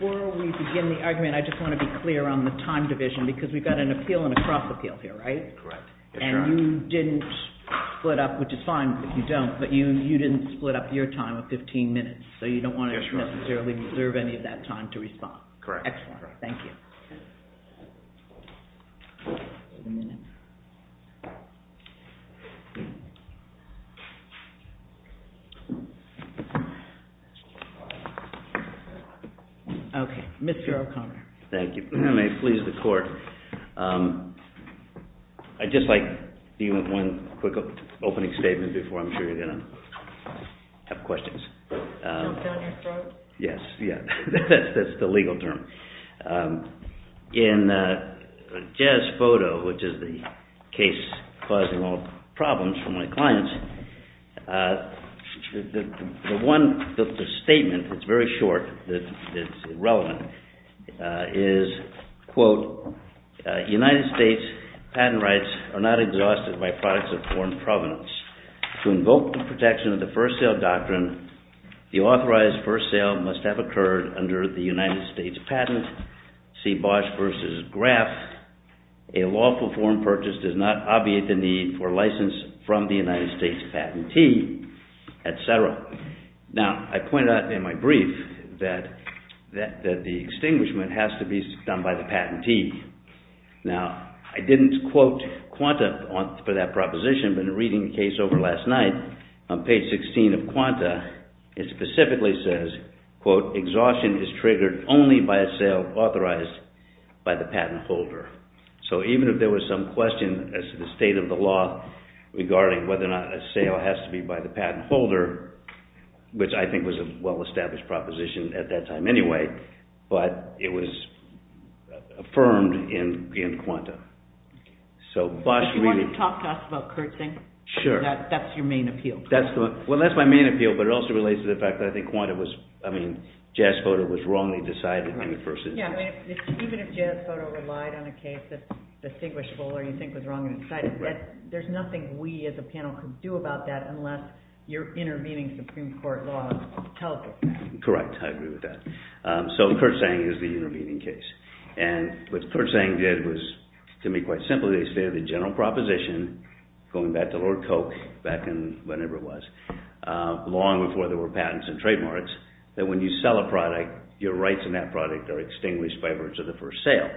Before we begin the argument, I just want to be clear on the time division, because we've got an appeal and a cross-appeal here, right? Correct. And you didn't split up, which is fine if you don't, but you didn't split up your time of 15 minutes, so you don't want to necessarily reserve any of that time to respond. Correct. Excellent. Thank you. Okay. Mr. O'Connor. Thank you. And may it please the Court, I'd just like even one quick opening statement before I'm sure you're going to have questions. Jumped on your throat? Yes. Yeah. That's the legal term. In Jez's photo, which is the case causing all problems for my clients, the one statement that's very short, that is relevant, is, quote, United States patent rights are not exhausted by products of foreign provenance. To invoke the protection of the first sale doctrine, the authorized first sale must have a patent, see Bosch versus Graf, a lawful foreign purchase does not obviate the need for license from the United States patentee, et cetera. Now, I pointed out in my brief that the extinguishment has to be done by the patentee. Now, I didn't quote Quanta for that proposition, but in reading the case over last night, on page 16 of Quanta, it specifically says, quote, exhaustion is triggered only by a sale authorized by the patent holder. So even if there was some question as to the state of the law regarding whether or not a sale has to be by the patent holder, which I think was a well-established proposition at that time anyway, but it was affirmed in Quanta. So Bosch really... Do you want to talk to us about Kurt Sang? Sure. That's your main appeal. Well, that's my main appeal, but it also relates to the fact that I think Quanta was, I mean, Jazz Photo was wrongly decided to do it versus... Yeah, I mean, even if Jazz Photo relied on a case that's distinguishable or you think was wrongly decided, there's nothing we as a panel could do about that unless you're intervening Supreme Court law to tell us what to do. Correct, I agree with that. So Kurt Sang is the intervening case. And what Kurt Sang did was, to me, quite simply, they stated the general proposition, going back to Lord Koch, back in whenever it was, long before there were patents and trademarks, that when you sell a product, your rights in that product are extinguished by virtue of the first sale.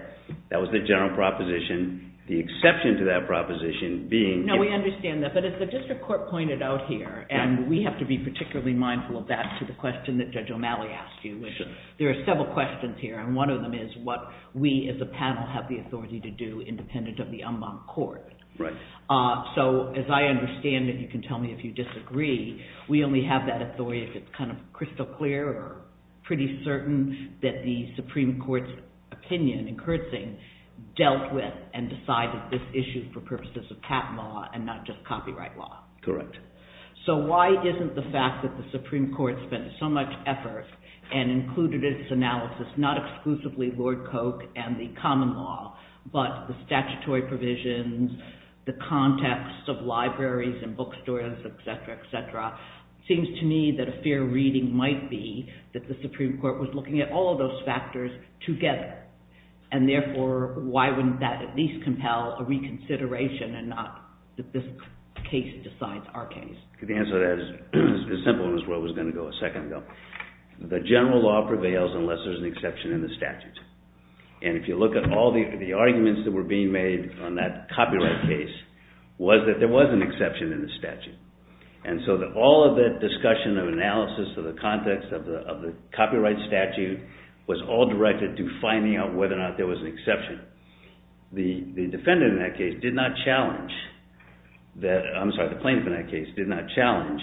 That was the general proposition. The exception to that proposition being... No, we understand that, but as the district court pointed out here, and we have to be particularly mindful of that to the question that Judge O'Malley asked you, which is, there are several questions here, and one of them is what we as a panel have the authority to do independent of the en banc court. Right. So as I understand it, you can tell me if you disagree, we only have that authority if it's kind of crystal clear or pretty certain that the Supreme Court's opinion in Kurt Sang dealt with and decided this issue for purposes of patent law and not just copyright law. Correct. So why isn't the fact that the Supreme Court spent so much effort and included its analysis, not exclusively Lord Koch and the common law, but the statutory provisions, the context of libraries and bookstores, etc., etc., seems to me that a fair reading might be that the Supreme Court was looking at all of those factors together. And therefore, why wouldn't that at least compel a reconsideration and not that this case decides our case? The answer to that is as simple as what was going to go a second ago. The general law prevails unless there's an exception in the statute. And if you look at all the arguments that were being made on that copyright case, was that there was an exception in the statute. And so all of the discussion of analysis of the context of the copyright statute was all directed to finding out whether or not there was an exception. The defendant in that case did not challenge, I'm sorry, the plaintiff in that case did not challenge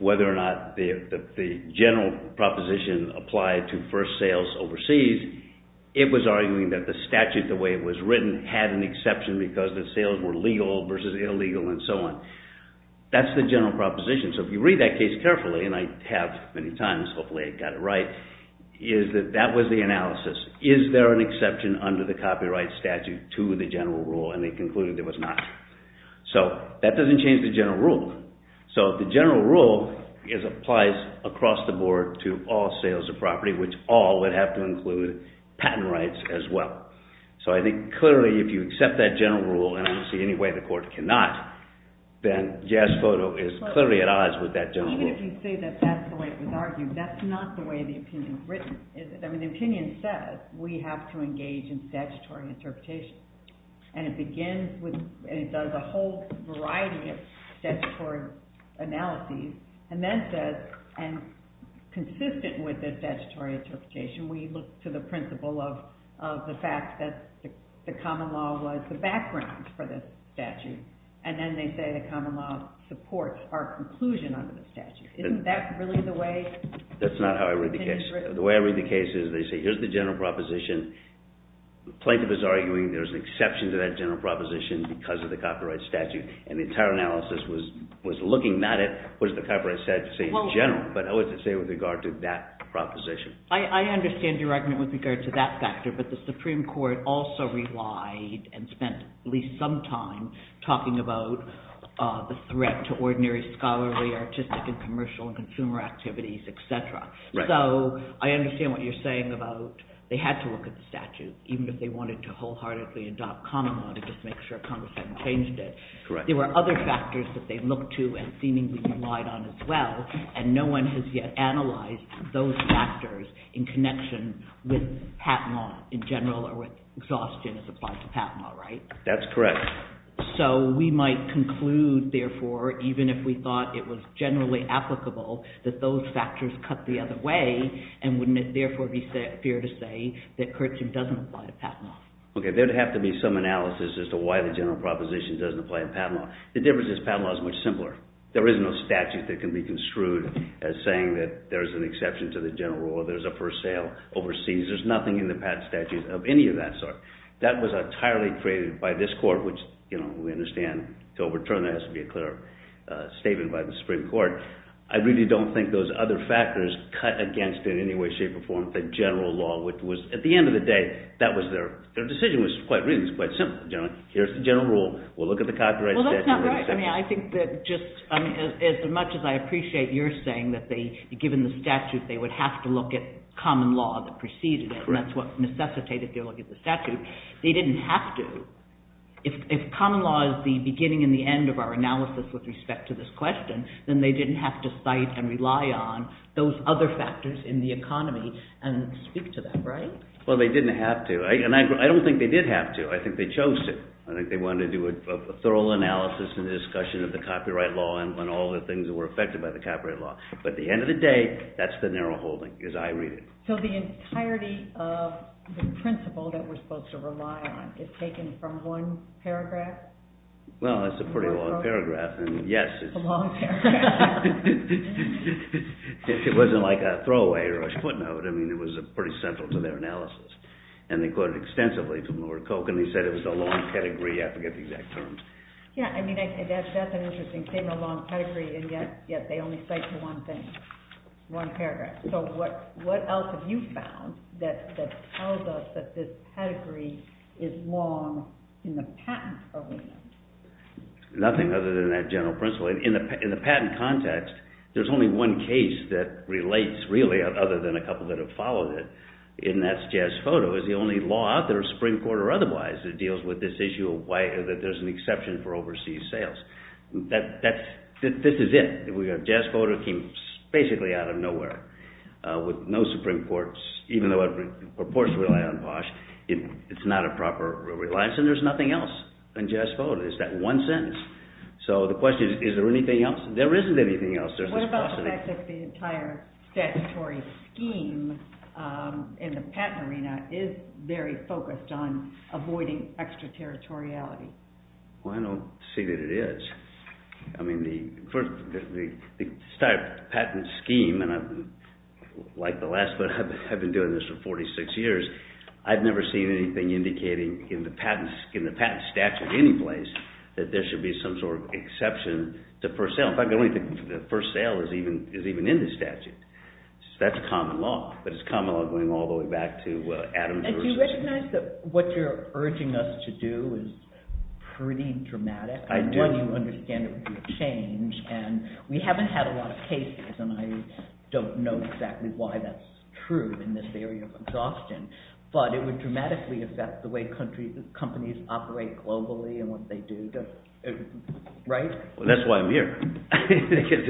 whether or not the general proposition applied to first sales overseas. It was arguing that the statute, the way it was written, had an exception because the sales were legal versus illegal and so on. That's the general proposition. So if you read that case carefully, and I have many times, hopefully I got it right, is that that was the analysis. Is there an exception under the copyright statute to the general rule? And they concluded there was not. So that doesn't change the general rule. So the general rule applies across the board to all sales of property, which all would have to include patent rights as well. So I think clearly if you accept that general rule, and I don't see any way the court cannot, then Jazz Photo is clearly at odds with that general rule. Even if you say that that's the way it was argued, that's not the way the opinion is written, is it? I mean, the opinion says we have to engage in statutory interpretation. And it begins with, and it does a whole variety of statutory analyses, and then says, and consistent with the statutory interpretation, we look to the principle of the fact that the common law was the background for the statute. And then they say the common law supports our conclusion under the statute. Isn't that really the way? The way I read the case is they say here's the general proposition. The plaintiff is arguing there's an exception to that general proposition because of the copyright statute. And the entire analysis was looking at it, what does the copyright statute say in general? But what does it say with regard to that proposition? I understand your argument with regard to that factor, but the Supreme Court also relied and spent at least some time talking about the threat to ordinary scholarly, artistic, and commercial and consumer activities, et cetera. So I understand what you're saying about they had to look at the statute, even if they wanted to wholeheartedly adopt common law to just make sure Congress hadn't changed it. There were other factors that they looked to and seemingly relied on as well, and no one has yet analyzed those factors in connection with HATMA in general or with exhaustion as applied to HATMA, right? That's correct. So we might conclude, therefore, even if we thought it was generally applicable, that those factors cut the other way, and wouldn't it therefore be fair to say that Curtship doesn't apply to HATMA? Okay, there'd have to be some analysis as to why the general proposition doesn't apply to HATMA. The difference is HATMA is much simpler. There is no statute that can be construed as saying that there's an exception to the general rule, there's a first sale overseas. There's nothing in the statute of any of that sort. That was entirely created by this Court, which we understand to overturn there has to be a clear statement by the Supreme Court. I really don't think those other factors cut against in any way, shape, or form the general law, which was, at the end of the day, that was their decision was quite reasonable, quite simple. Here's the general rule, we'll look at the copyright statute. Well, that's not right. I think that just as much as I appreciate your saying that given the statute they would have to look at common law that preceded it, and that's what necessitated their look at the statute, they didn't have to. If common law is the beginning and the end of our analysis with respect to this question, then they didn't have to cite and rely on those other factors in the economy and speak to them, right? Well, they didn't have to, and I don't think they did have to. I think they chose to. I think they wanted to do a thorough analysis and discussion of the copyright law and all the things that were affected by the copyright law. But at the end of the day, that's the narrow holding, as I read it. So the entirety of the principle that we're supposed to rely on is taken from one paragraph? Well, that's a pretty long paragraph, and yes. It's a long paragraph. It wasn't like a throwaway or a footnote. I mean, it was pretty central to their analysis, and they quoted extensively from Lord Coke, and they said it was a long pedigree. I forget the exact terms. Yeah, I mean, that's an interesting statement, a long pedigree, and yet they only cite to one thing, one paragraph. So what else have you found that tells us that this pedigree is long in the patent arena? Nothing other than that general principle. In the patent context, there's only one case that relates, really, other than a couple that have followed it, and that's Jazz Photo. It's the only law out there, Supreme Court or otherwise, that deals with this issue of why there's an exception for overseas sales. This is it. Jazz Photo came basically out of nowhere with no Supreme Court, even though reports rely on POSH, it's not a proper reliance, and there's nothing else in Jazz Photo. It's that one sentence. So the question is, is there anything else? There isn't anything else. What about the fact that the entire statutory scheme in the patent arena is very focused on avoiding extraterritoriality? Well, I don't see that it is. I mean, the entire patent scheme, and I've been doing this for 46 years, I've never seen anything indicating in the patent statute any place that there should be some sort of exception to first sale. In fact, I don't think the first sale is even in the statute. That's a common law, but it's a common law going all the way back to Adams v. Do you recognize that what you're urging us to do is pretty dramatic? I do. I want you to understand it would be a change, and we haven't had a lot of cases, and I don't know exactly why that's true in this area of exhaustion, but it would dramatically affect the way companies operate globally and what they do, right? Well, that's why I'm here, because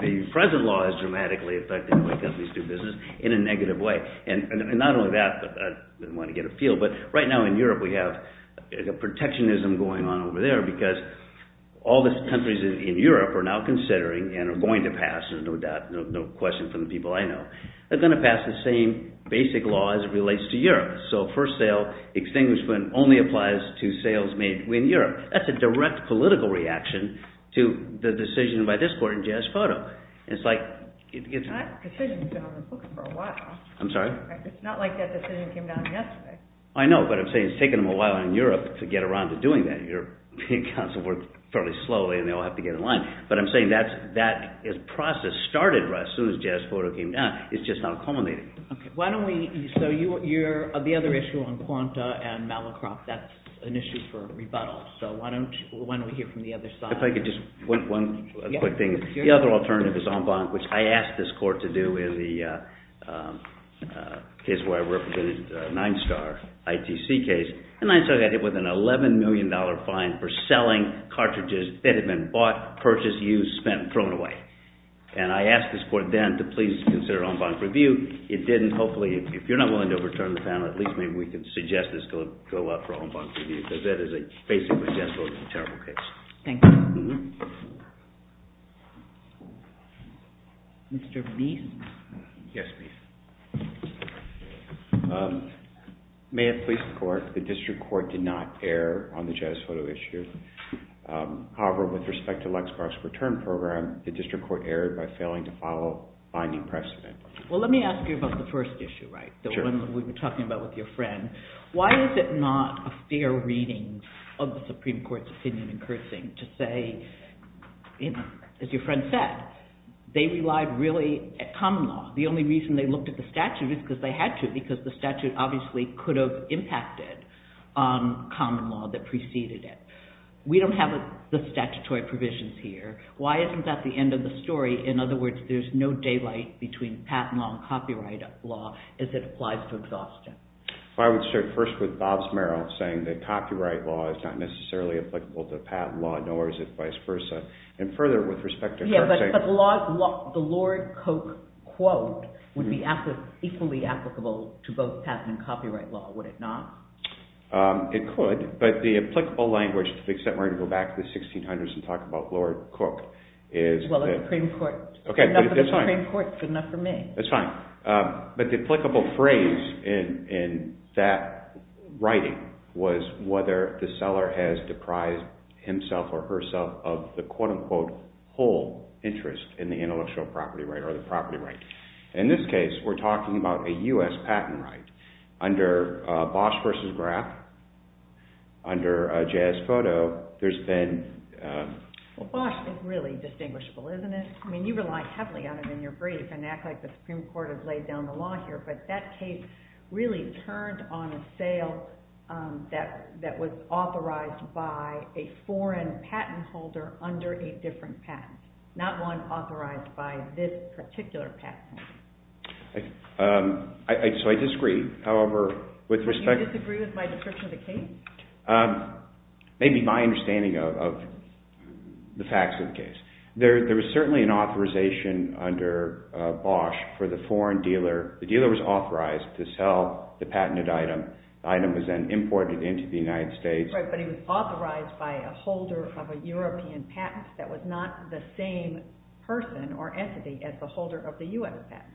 the present law has dramatically affected the way companies do business in a negative way. And not only that, I didn't want to get a feel, but right now in Europe we have protectionism going on over there because all the countries in Europe are now considering and are going to pass, there's no doubt, no question from the people I know, they're going to pass the same basic law as it relates to Europe. So first sale extinguishment only applies to sales made in Europe. That's a direct political reaction to the decision by this court in Jazz Photo. It's like... That decision's been on the books for a while. I'm sorry? It's not like that decision came down yesterday. I know, but I'm saying it's taken them a while in Europe to get around to doing that. Europe Council works fairly slowly and they all have to get in line. But I'm saying that process started right as soon as Jazz Photo came down. It's just not culminating. So the other issue on Quanta and Malacroft, that's an issue for rebuttal. So why don't we hear from the other side? If I could just, one quick thing. The other alternative is En Blanc, which I asked this court to do in the case where I represented Ninestar, ITC case. And Ninestar got hit with an $11 million fine for selling cartridges that had been bought, purchased, used, spent, thrown away. And I asked this court then to please consider En Blanc's review. It didn't. Hopefully, if you're not willing to overturn the panel, at least maybe we could suggest this go up for En Blanc's review because that is a, basically, Jazz Photo is a terrible case. Thank you. Mr. Meese? Yes, please. May it please the court, the district court did not err on the Jazz Photo issue. However, with respect to Lexmark's return program, the district court erred by failing to follow binding precedent. Well, let me ask you about the first issue, right? The one that we were talking about with your friend. Why is it not a fair reading of the Supreme Court's opinion in Kersing to say, as your friend said, they relied really at common law. The only reason they looked at the statute is because they had to because the statute obviously could have impacted on common law that preceded it. We don't have the statutory provisions here. Why isn't that the end of the story? In other words, there's no daylight between patent law and copyright law as it applies to exhaustion. I would start first with Bob Smerrill saying that copyright law is not necessarily applicable to patent law, nor is it vice versa. And further, with respect to Kersing... But the Lord Cooke quote would be equally applicable to both patent and copyright law, would it not? It could, but the applicable language, to the extent we're going to go back to the 1600s and talk about Lord Cooke, is that... Well, the Supreme Court, good enough for the Supreme Court, good enough for me. That's fine, but the applicable phrase in that writing was whether the seller has deprised himself or herself of the quote-unquote whole interest in the intellectual property right or the property right. In this case, we're talking about a U.S. patent right. Under Bosch v. Graf, under Jazz Photo, there's been... Well, Bosch is really distinguishable, isn't it? I mean, you rely heavily on it in your brief and act like the Supreme Court has laid down the law here, but that case really turned on a sale that was authorized by a foreign patent holder under a different patent, not one authorized by this particular patent holder. So I disagree, however, with respect... Do you disagree with my description of the case? Maybe my understanding of the facts of the case. There was certainly an authorization under Bosch for the foreign dealer. The dealer was authorized to sell the patented item. The item was then imported into the United States. Right, but he was authorized by a holder of a European patent that was not the same person or entity as the holder of the U.S. patent.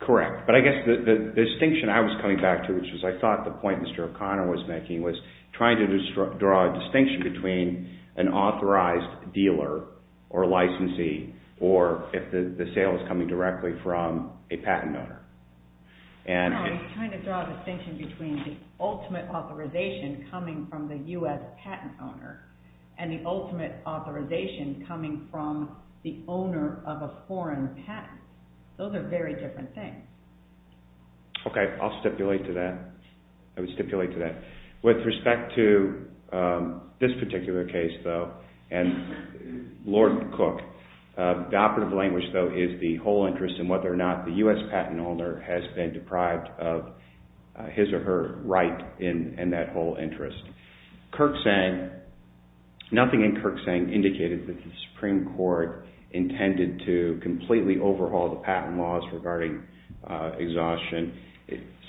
Correct, but I guess the distinction I was coming back to, which is I thought the point Mr. O'Connor was making, was trying to draw a distinction between an authorized dealer or licensee or if the sale was coming directly from a patent owner. No, he was trying to draw a distinction between the ultimate authorization coming from the U.S. patent owner and the ultimate authorization coming from the owner of a foreign patent. Those are very different things. Okay, I'll stipulate to that. I would stipulate to that. With respect to this particular case, though, and Lord Cook, the operative language, though, is the whole interest and whether or not the U.S. patent owner has been deprived of his or her right in that whole interest. Kirk Sang, nothing in Kirk Sang indicated that the Supreme Court intended to completely overhaul the patent laws regarding exhaustion.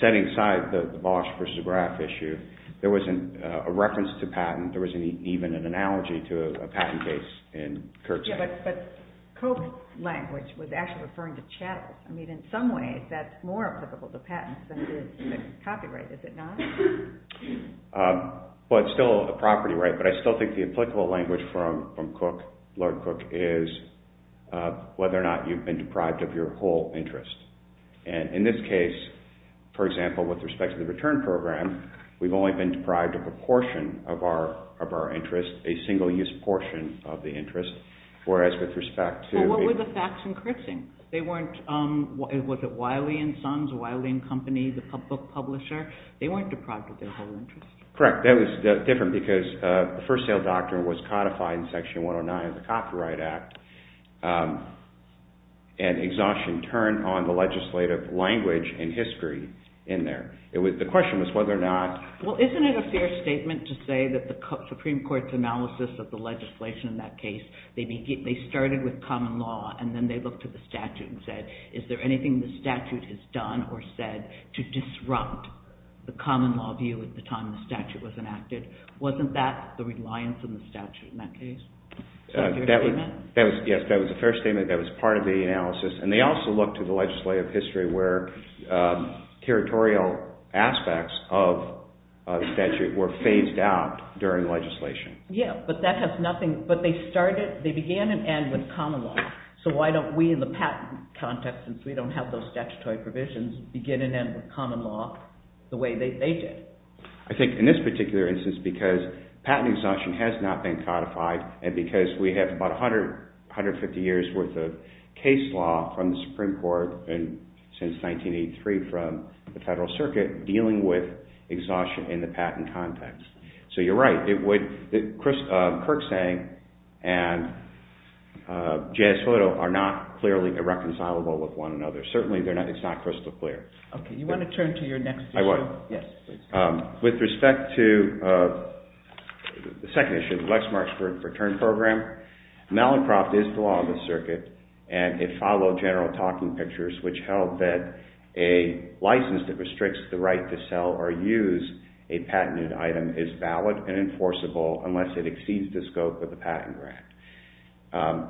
Setting aside the Bosch versus Graf issue, there wasn't a reference to patent. But Cook's language was actually referring to chattels. In some ways that's more applicable to patents than it is to copyright, is it not? Well, it's still a property right, but I still think the applicable language from Cook, Lord Cook, is whether or not you've been deprived of your whole interest. In this case, for example, with respect to the return program, we've only been deprived of a portion of our interest, a single-use portion of the interest. Well, what were the facts in Kirk Sang? Was it Wiley & Sons, Wiley & Company, the book publisher? They weren't deprived of their whole interest. Correct. That was different because the first sale doctrine was codified in Section 109 of the Copyright Act and exhaustion turned on the legislative language and history in there. The question was whether or not— Well, isn't it a fair statement to say that the Supreme Court's analysis of the legislation in that case, they started with common law and then they looked at the statute and said, is there anything the statute has done or said to disrupt the common law view at the time the statute was enacted? Wasn't that the reliance on the statute in that case? Yes, that was a fair statement. That was part of the analysis. And they also looked at the legislative history where territorial aspects of statute were phased out during legislation. Yes, but that has nothing—but they started—they began and ended with common law. So why don't we in the patent context, since we don't have those statutory provisions, begin and end with common law the way they did? I think in this particular instance, because patent exhaustion has not been codified and because we have about 150 years' worth of case law from the Supreme Court and since 1983 from the Federal Circuit dealing with exhaustion in the patent context. So you're right. It would—Kirksang and Jayasoto are not clearly irreconcilable with one another. Certainly, it's not crystal clear. Okay, you want to turn to your next issue? I would. Yes, please. With respect to the second issue, the Lexmark's Return Program, Malincroft is the law of the circuit and it followed general talking pictures which held that a license that restricts the right to sell or use a patented item is valid and enforceable unless it exceeds the scope of the patent grant.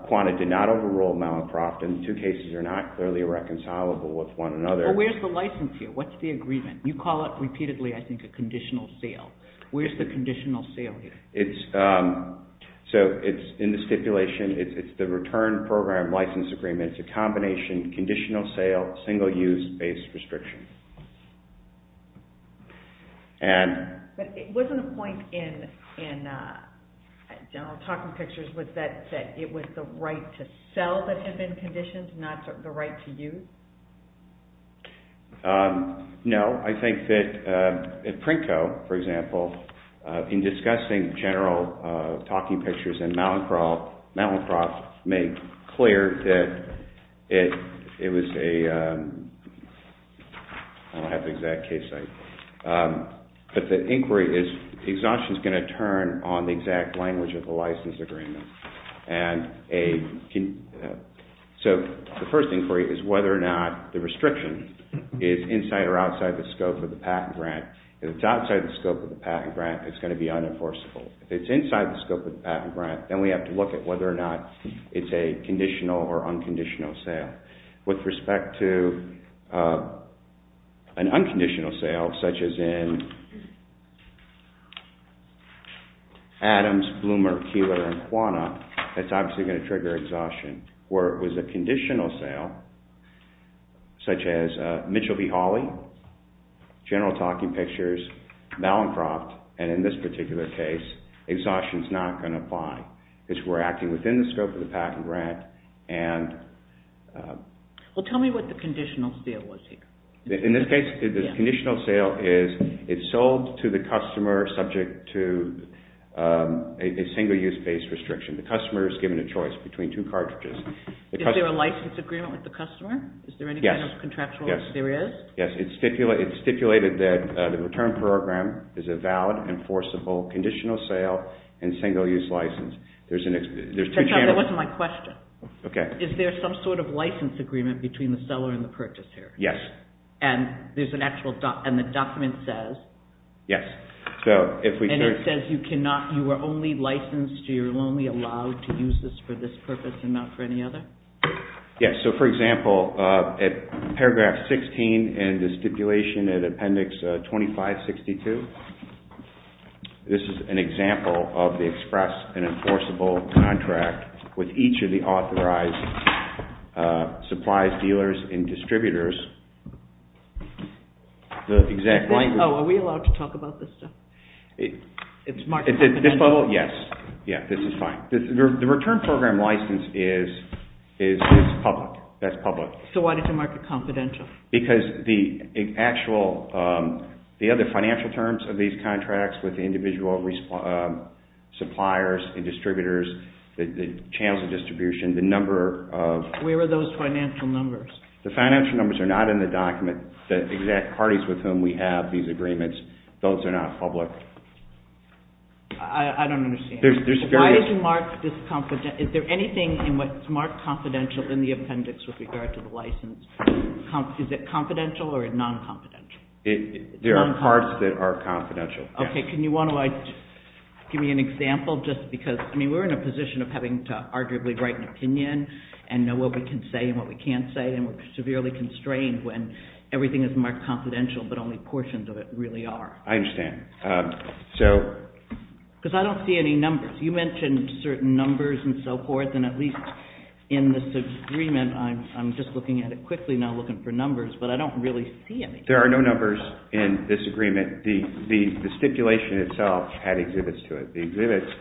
Quanta did not overrule Malincroft and the two cases are not clearly irreconcilable with one another. Well, where's the license here? What's the agreement? You call it repeatedly, I think, a conditional sale. Where's the conditional sale here? So it's in the stipulation. It's the Return Program License Agreement. It's a combination, conditional sale, single-use-based restriction. But wasn't the point in general talking pictures was that it was the right to sell that had been conditioned, not the right to use? No. I think that Prinko, for example, in discussing general talking pictures in Malincroft made clear that it was a... I don't have the exact case site. But the inquiry is... Exhaustion is going to turn on the exact language of the license agreement. So the first inquiry is whether or not the restriction is inside or outside the scope of the patent grant. If it's outside the scope of the patent grant, it's going to be unenforceable. If it's inside the scope of the patent grant, then we have to look at whether or not it's a conditional or unconditional sale. With respect to an unconditional sale, such as in Adams, Bloomer, Keeler, and Quanna, that's obviously going to trigger exhaustion. Where it was a conditional sale, such as Mitchell v. Hawley, general talking pictures, Malincroft, and in this particular case, exhaustion is not going to apply. It's reacting within the scope of the patent grant and... Well, tell me what the conditional sale was here. In this case, the conditional sale is it's sold to the customer subject to a single-use-based restriction. The customer is given a choice between two cartridges. Is there a license agreement with the customer? Yes. Is there any kind of contractual serious? Yes. It's stipulated that the return program is a valid, enforceable, conditional sale, and single-use license. That wasn't my question. Okay. Is there some sort of license agreement between the seller and the purchaser? Yes. And the document says... Yes. And it says you are only licensed, you are only allowed to use this for this purpose and not for any other? Yes. So, for example, at paragraph 16 in the stipulation in appendix 2562, this is an example of the express and enforceable contract with each of the authorized supplies, dealers, and distributors. The exact language... Oh, are we allowed to talk about this stuff? It's market confidential? Yes. Yes. This is fine. The return program license is public. That's public. So why did you mark it confidential? Because the actual, the other financial terms of these contracts with the individual suppliers and distributors, the channels of distribution, the number of... Where are those financial numbers? The financial numbers are not in the document. The exact parties with whom we have these agreements, those are not public. I don't understand. Why did you mark this confidential? Is there anything in what's marked confidential in the appendix with regard to the license? Is it confidential or non-confidential? There are parts that are confidential. Okay. Can you give me an example just because, I mean, we're in a position of having to arguably write an opinion and know what we can say and what we can't say and we're severely constrained when everything is marked confidential but only portions of it really are. I understand. So... Because I don't see any numbers. You mentioned certain numbers and so forth and at least in this agreement, I'm just looking at it quickly now looking for numbers, but I don't really see any. There are no numbers in this agreement. The stipulation itself had exhibits to it. The exhibits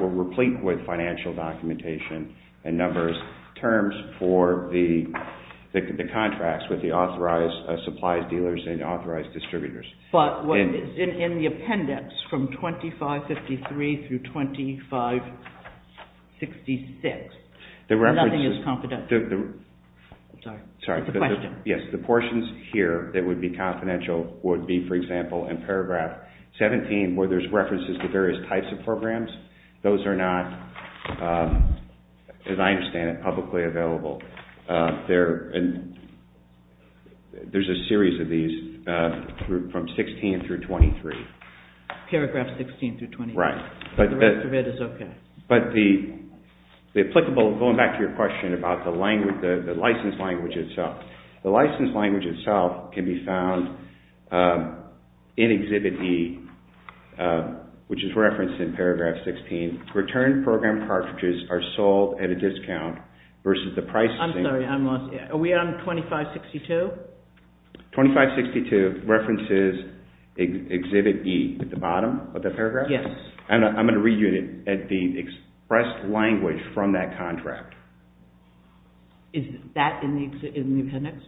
were replete with financial documentation and numbers, terms for the contracts with the authorized supplies dealers and authorized distributors. But in the appendix from 2553 through 2566, nothing is confidential. Sorry. It's a question. Yes. The portions here that would be confidential would be, for example, in paragraph 17 where there's references to various types of programs. Those are not, as I understand it, publicly available. There's a series of these from 16 through 23. Paragraph 16 through 23. Right. The rest of it is okay. But the applicable, going back to your question about the license language itself, the license language itself can be found in Exhibit E which is referenced in paragraph 16. Return program cartridges are sold at a discount versus the pricing. I'm sorry. I'm lost. Are we on 2562? 2562 references Exhibit E at the bottom of the paragraph. Yes. I'm going to read you the expressed language from that contract. Is that in the appendix?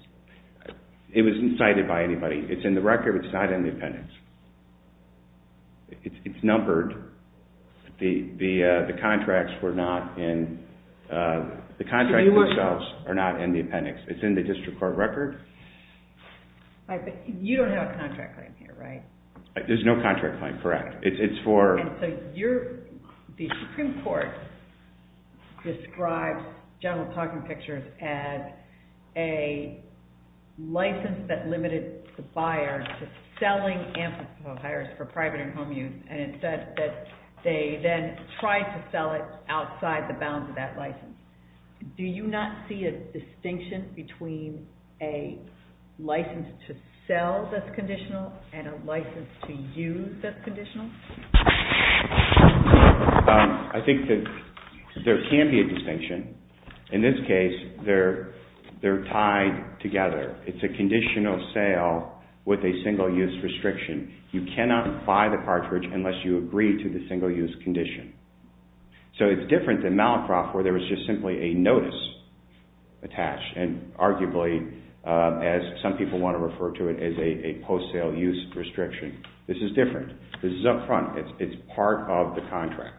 It wasn't cited by anybody. It's in the record. It's not in the appendix. It's numbered. The contracts themselves are not in the appendix. It's in the district court record. You don't have a contract claim here, right? There's no contract claim, correct. It's for... The Supreme Court describes general talking pictures as a license that limited the buyer to selling antithetical hires for private and home use and it said that they then tried to sell it outside the bounds of that license. Do you not see a distinction between a license to sell that's conditional and a license to use that's conditional? I think that there can be a distinction. In this case, they're tied together. It's a conditional sale with a single-use restriction. You cannot buy the cartridge unless you agree to the single-use condition. So it's different than Malacroft where there was just simply a notice attached and arguably, as some people want to refer to it, as a post-sale use restriction. This is different. This is up front. It's part of the contract.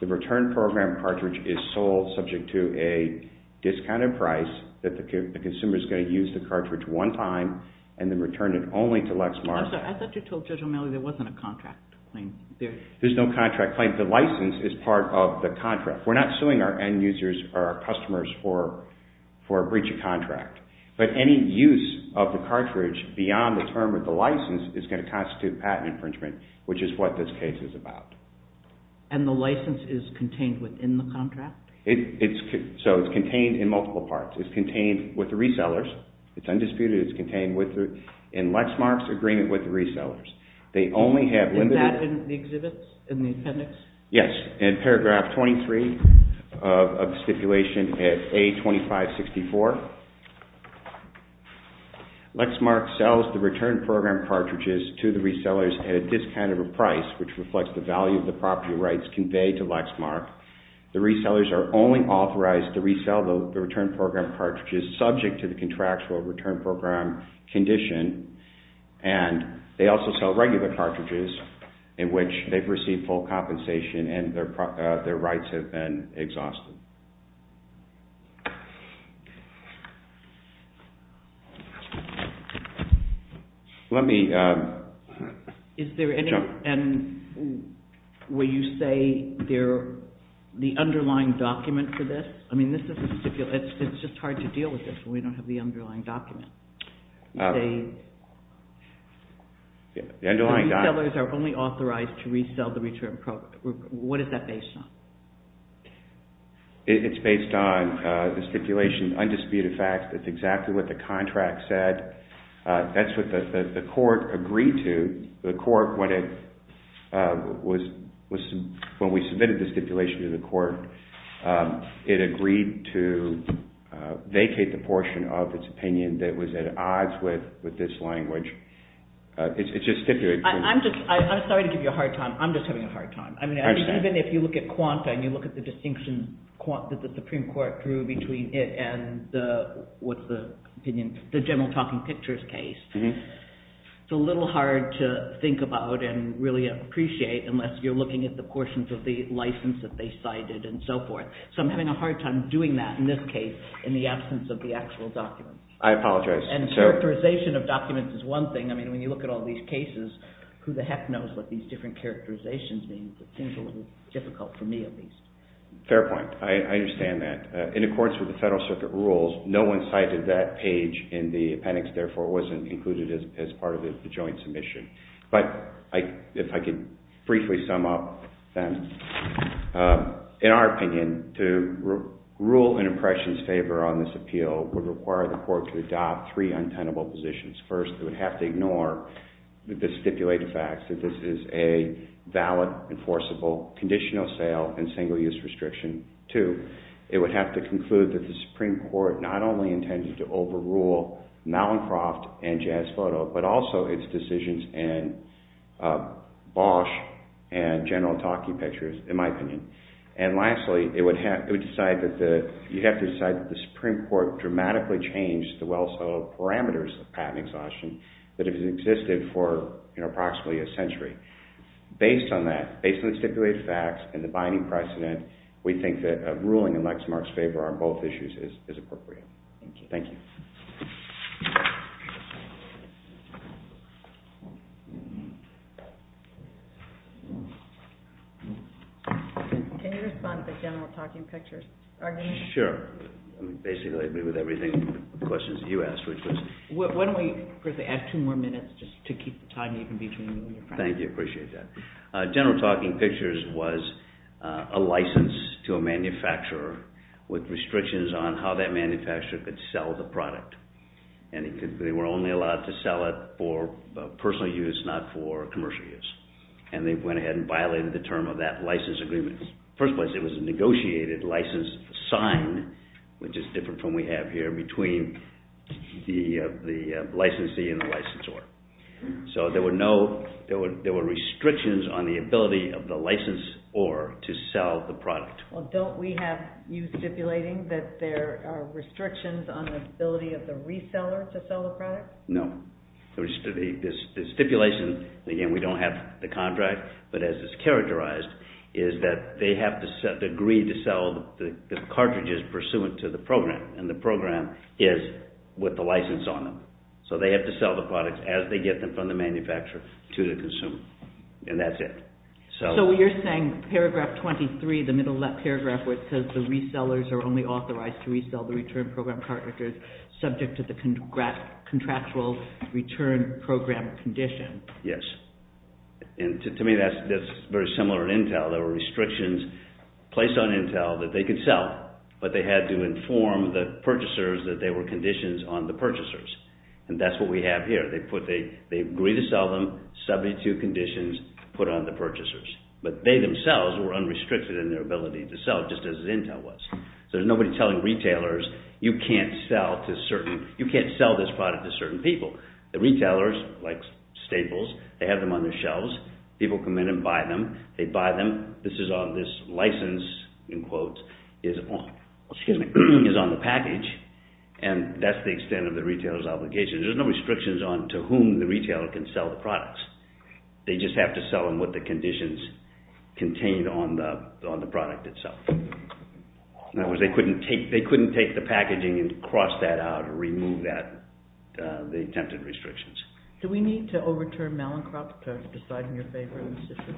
The return program cartridge is sold subject to a discounted price that the consumer is going to use the cartridge one time and then return it only to Lexmark. I thought you told Judge O'Malley there wasn't a contract claim. There's no contract claim. The license is part of the contract. We're not suing our end users or our customers for a breach of contract. But any use of the cartridge beyond the term of the license is going to constitute patent infringement, which is what this case is about. And the license is contained within the contract? So it's contained in multiple parts. It's contained with the resellers. It's undisputed. It's contained in Lexmark's agreement with the resellers. They only have limited... Is that in the exhibits, in the appendix? Yes, in paragraph 23 of the stipulation at A2564. Lexmark sells the return program cartridges to the resellers at a discounted price which reflects the value of the property rights conveyed to Lexmark. The resellers are only authorized to resell the return program cartridges subject to the contractual return program condition. And they also sell regular cartridges in which they've received full compensation and their rights have been exhausted. Let me... Is there any... Will you say the underlying document for this? I mean, this is a stipulation. It's just hard to deal with this when we don't have the underlying document. The underlying document... The resellers are only authorized to resell the return program. What is that based on? It's based on the stipulation, undisputed fact. That's exactly what the contract said. That's what the court agreed to. The court, when it was... When we submitted the stipulation to the court, it agreed to vacate the portion of its opinion that was at odds with this language. It's just stipulated. I'm just... I'm sorry to give you a hard time. I'm just having a hard time. I mean, even if you look at quanta and you look at the distinction that the Supreme Court drew between it and the... What's the opinion? The general talking pictures case. It's a little hard to think about and really appreciate unless you're looking at the portions of the license that they cited and so forth. So I'm having a hard time doing that, in this case, in the absence of the actual documents. I apologize. And characterization of documents is one thing. I mean, when you look at all these cases, who the heck knows what these different characterizations mean. It seems a little difficult for me, at least. Fair point. I understand that. In accordance with the Federal Circuit rules, no one cited that page in the appendix. Therefore, it wasn't included as part of the joint submission. But if I could briefly sum up, then, in our opinion, to rule an impression's favor on this appeal would require the court to adopt three untenable positions. First, it would have to ignore the stipulated facts, that this is a valid, enforceable, conditional sale, and single-use restriction. Two, it would have to conclude that the Supreme Court not only intended to overrule Malencroft and Jazz Photo, but also its decisions in Bosch and General Otake pictures, in my opinion. And lastly, it would decide that the you'd have to decide that the Supreme Court dramatically changed the well-settled parameters of patent exhaustion that have existed for approximately a century. Based on that, based on the stipulated facts and the binding precedent, we think that a ruling in Lexmark's favor on both issues is appropriate. Thank you. Thank you. Can you respond to the General Talking Pictures argument? Sure. Basically, I agree with everything the questions you asked, which was... Why don't we add two more minutes just to keep the time even between you and your friend. Thank you, I appreciate that. General Talking Pictures was a license to a manufacturer with restrictions on how that manufacturer could sell the product. And they were only allowed to sell it for personal use, not for commercial use. And they went ahead and violated the term of that license agreement. First place, it was a negotiated license signed, which is different from what we have here, between the licensee and the licensor. So there were no... There were restrictions on the ability of the license or to sell the product. Well, don't we have you stipulating that there are restrictions on the ability of the reseller to sell the product? The stipulation... Again, we don't have the contract, but as it's characterized, is that they have to agree to sell the cartridges pursuant to the program. And the program is with the license on them. So they have to sell the products as they get them from the manufacturer to the consumer. And that's it. So you're saying paragraph 23, the middle left paragraph, where it says the resellers are only authorized to resell the return program cartridges subject to the contractual return program condition. Yes. And to me, that's very similar to Intel. There were restrictions placed on Intel that they could sell, but they had to inform the purchasers that there were conditions on the purchasers. And that's what we have here. They agree to sell them, 72 conditions put on the purchasers. But they themselves were unrestricted in their ability to sell, just as Intel was. So there's nobody telling retailers, you can't sell this product to certain people. The retailers, like Staples, they have them on their shelves. People come in and buy them. They buy them. This is on this license, in quotes, is on the package. And that's the extent of the retailer's obligation. There's no restrictions on to whom the retailer can sell the products. They just have to sell them based on what the conditions contained on the product itself. In other words, they couldn't take the packaging and cross that out or remove that, the attempted restrictions. Do we need to overturn Malincroft to decide in your favor on this issue?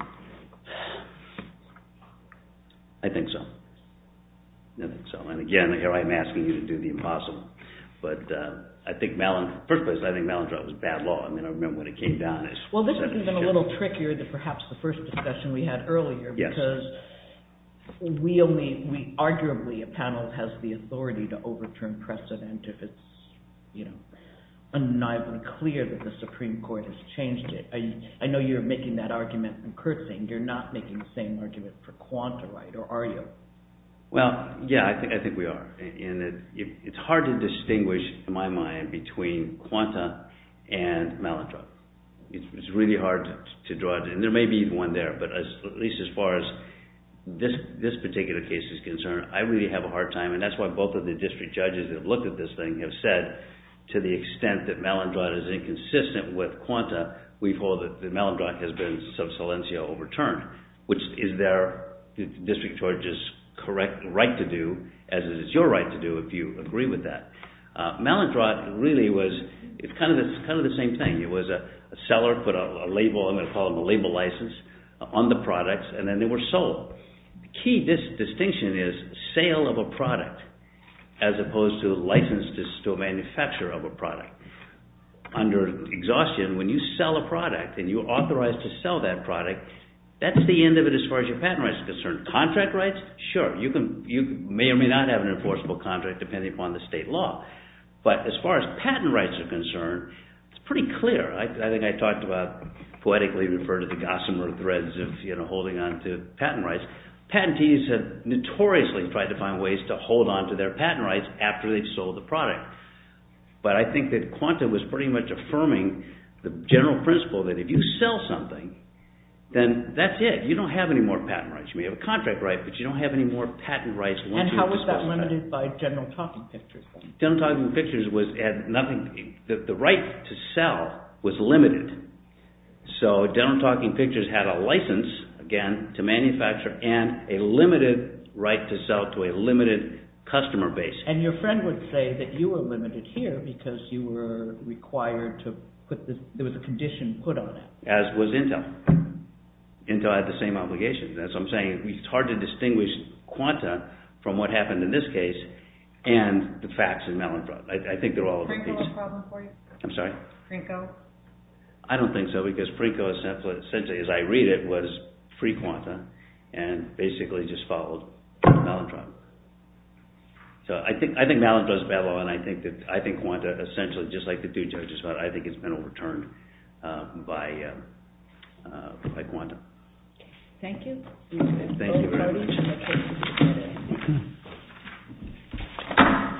I think so. I think so. And again, here I am asking you to do the impossible. But I think Malincroft, first place I think Malincroft was bad law. I mean, I remember when it came down. Well, this has been a little trickier than perhaps the first discussion we had earlier. Yes. Because we only, we arguably, a panel has the authority to overturn precedent if it's, you know, undeniably clear that the Supreme Court has changed it. I know you're making that argument, and Kurt's saying you're not making the same argument for Quanta, right? Or are you? Well, yeah, I think we are. And it's hard to distinguish, in my mind, between Quanta and Malincroft. It's really hard to draw, and there may be one there, but at least as far as this particular case is concerned, I really have a hard time, and that's why both of the district judges that have looked at this thing have said, to the extent that Malincroft is inconsistent with Quanta, we hold that Malincroft has been sub silencio overturned, which is their, the district judge's, correct right to do, as it is your right to do if you agree with that. Malincroft really was, it's kind of the same thing. It was a seller put a label, I'm going to call them a label license, on the products, and then they were sold. The key distinction is sale of a product as opposed to license to manufacture of a product. Under exhaustion, when you sell a product and you're authorized to sell that product, that's the end of it as far as your patent rights are concerned. Contract rights, sure, you may or may not have an enforceable contract depending upon the state law, but as far as patent rights are concerned, it's pretty clear. I think I talked about, poetically referred to the Gossamer threads of holding on to patent rights. Patentees have notoriously tried to find ways to hold on to their patent rights after they've sold the product. But I think that Quanta was pretty much affirming the general principle that if you sell something, then that's it. You don't have any more patent rights. You may have a contract right, but you don't have any more patent rights once you dispose of it. And how was that limited by general talking pictures? General talking pictures was at nothing, the right to sell was limited. So general talking pictures had a license, again, to manufacture and a limited right to sell to a limited customer base. And your friend would say that you were limited here because you were required to put the, there was a condition put on it. As was Intel. Intel had the same obligation. As I'm saying, it's hard to distinguish Quanta from what happened in this case and the facts in Mellenbrot. I think they're all of the same. Is Frinko a problem for you? I'm sorry? Frinko? I don't think so because Frinko essentially, as I read it, was free Quanta and basically just followed Mellenbrot. So I think Mellenbrot is bad law and I think Quanta essentially, just like the two judges, I think it's been overturned by Quanta. Thank you. Thank you very much.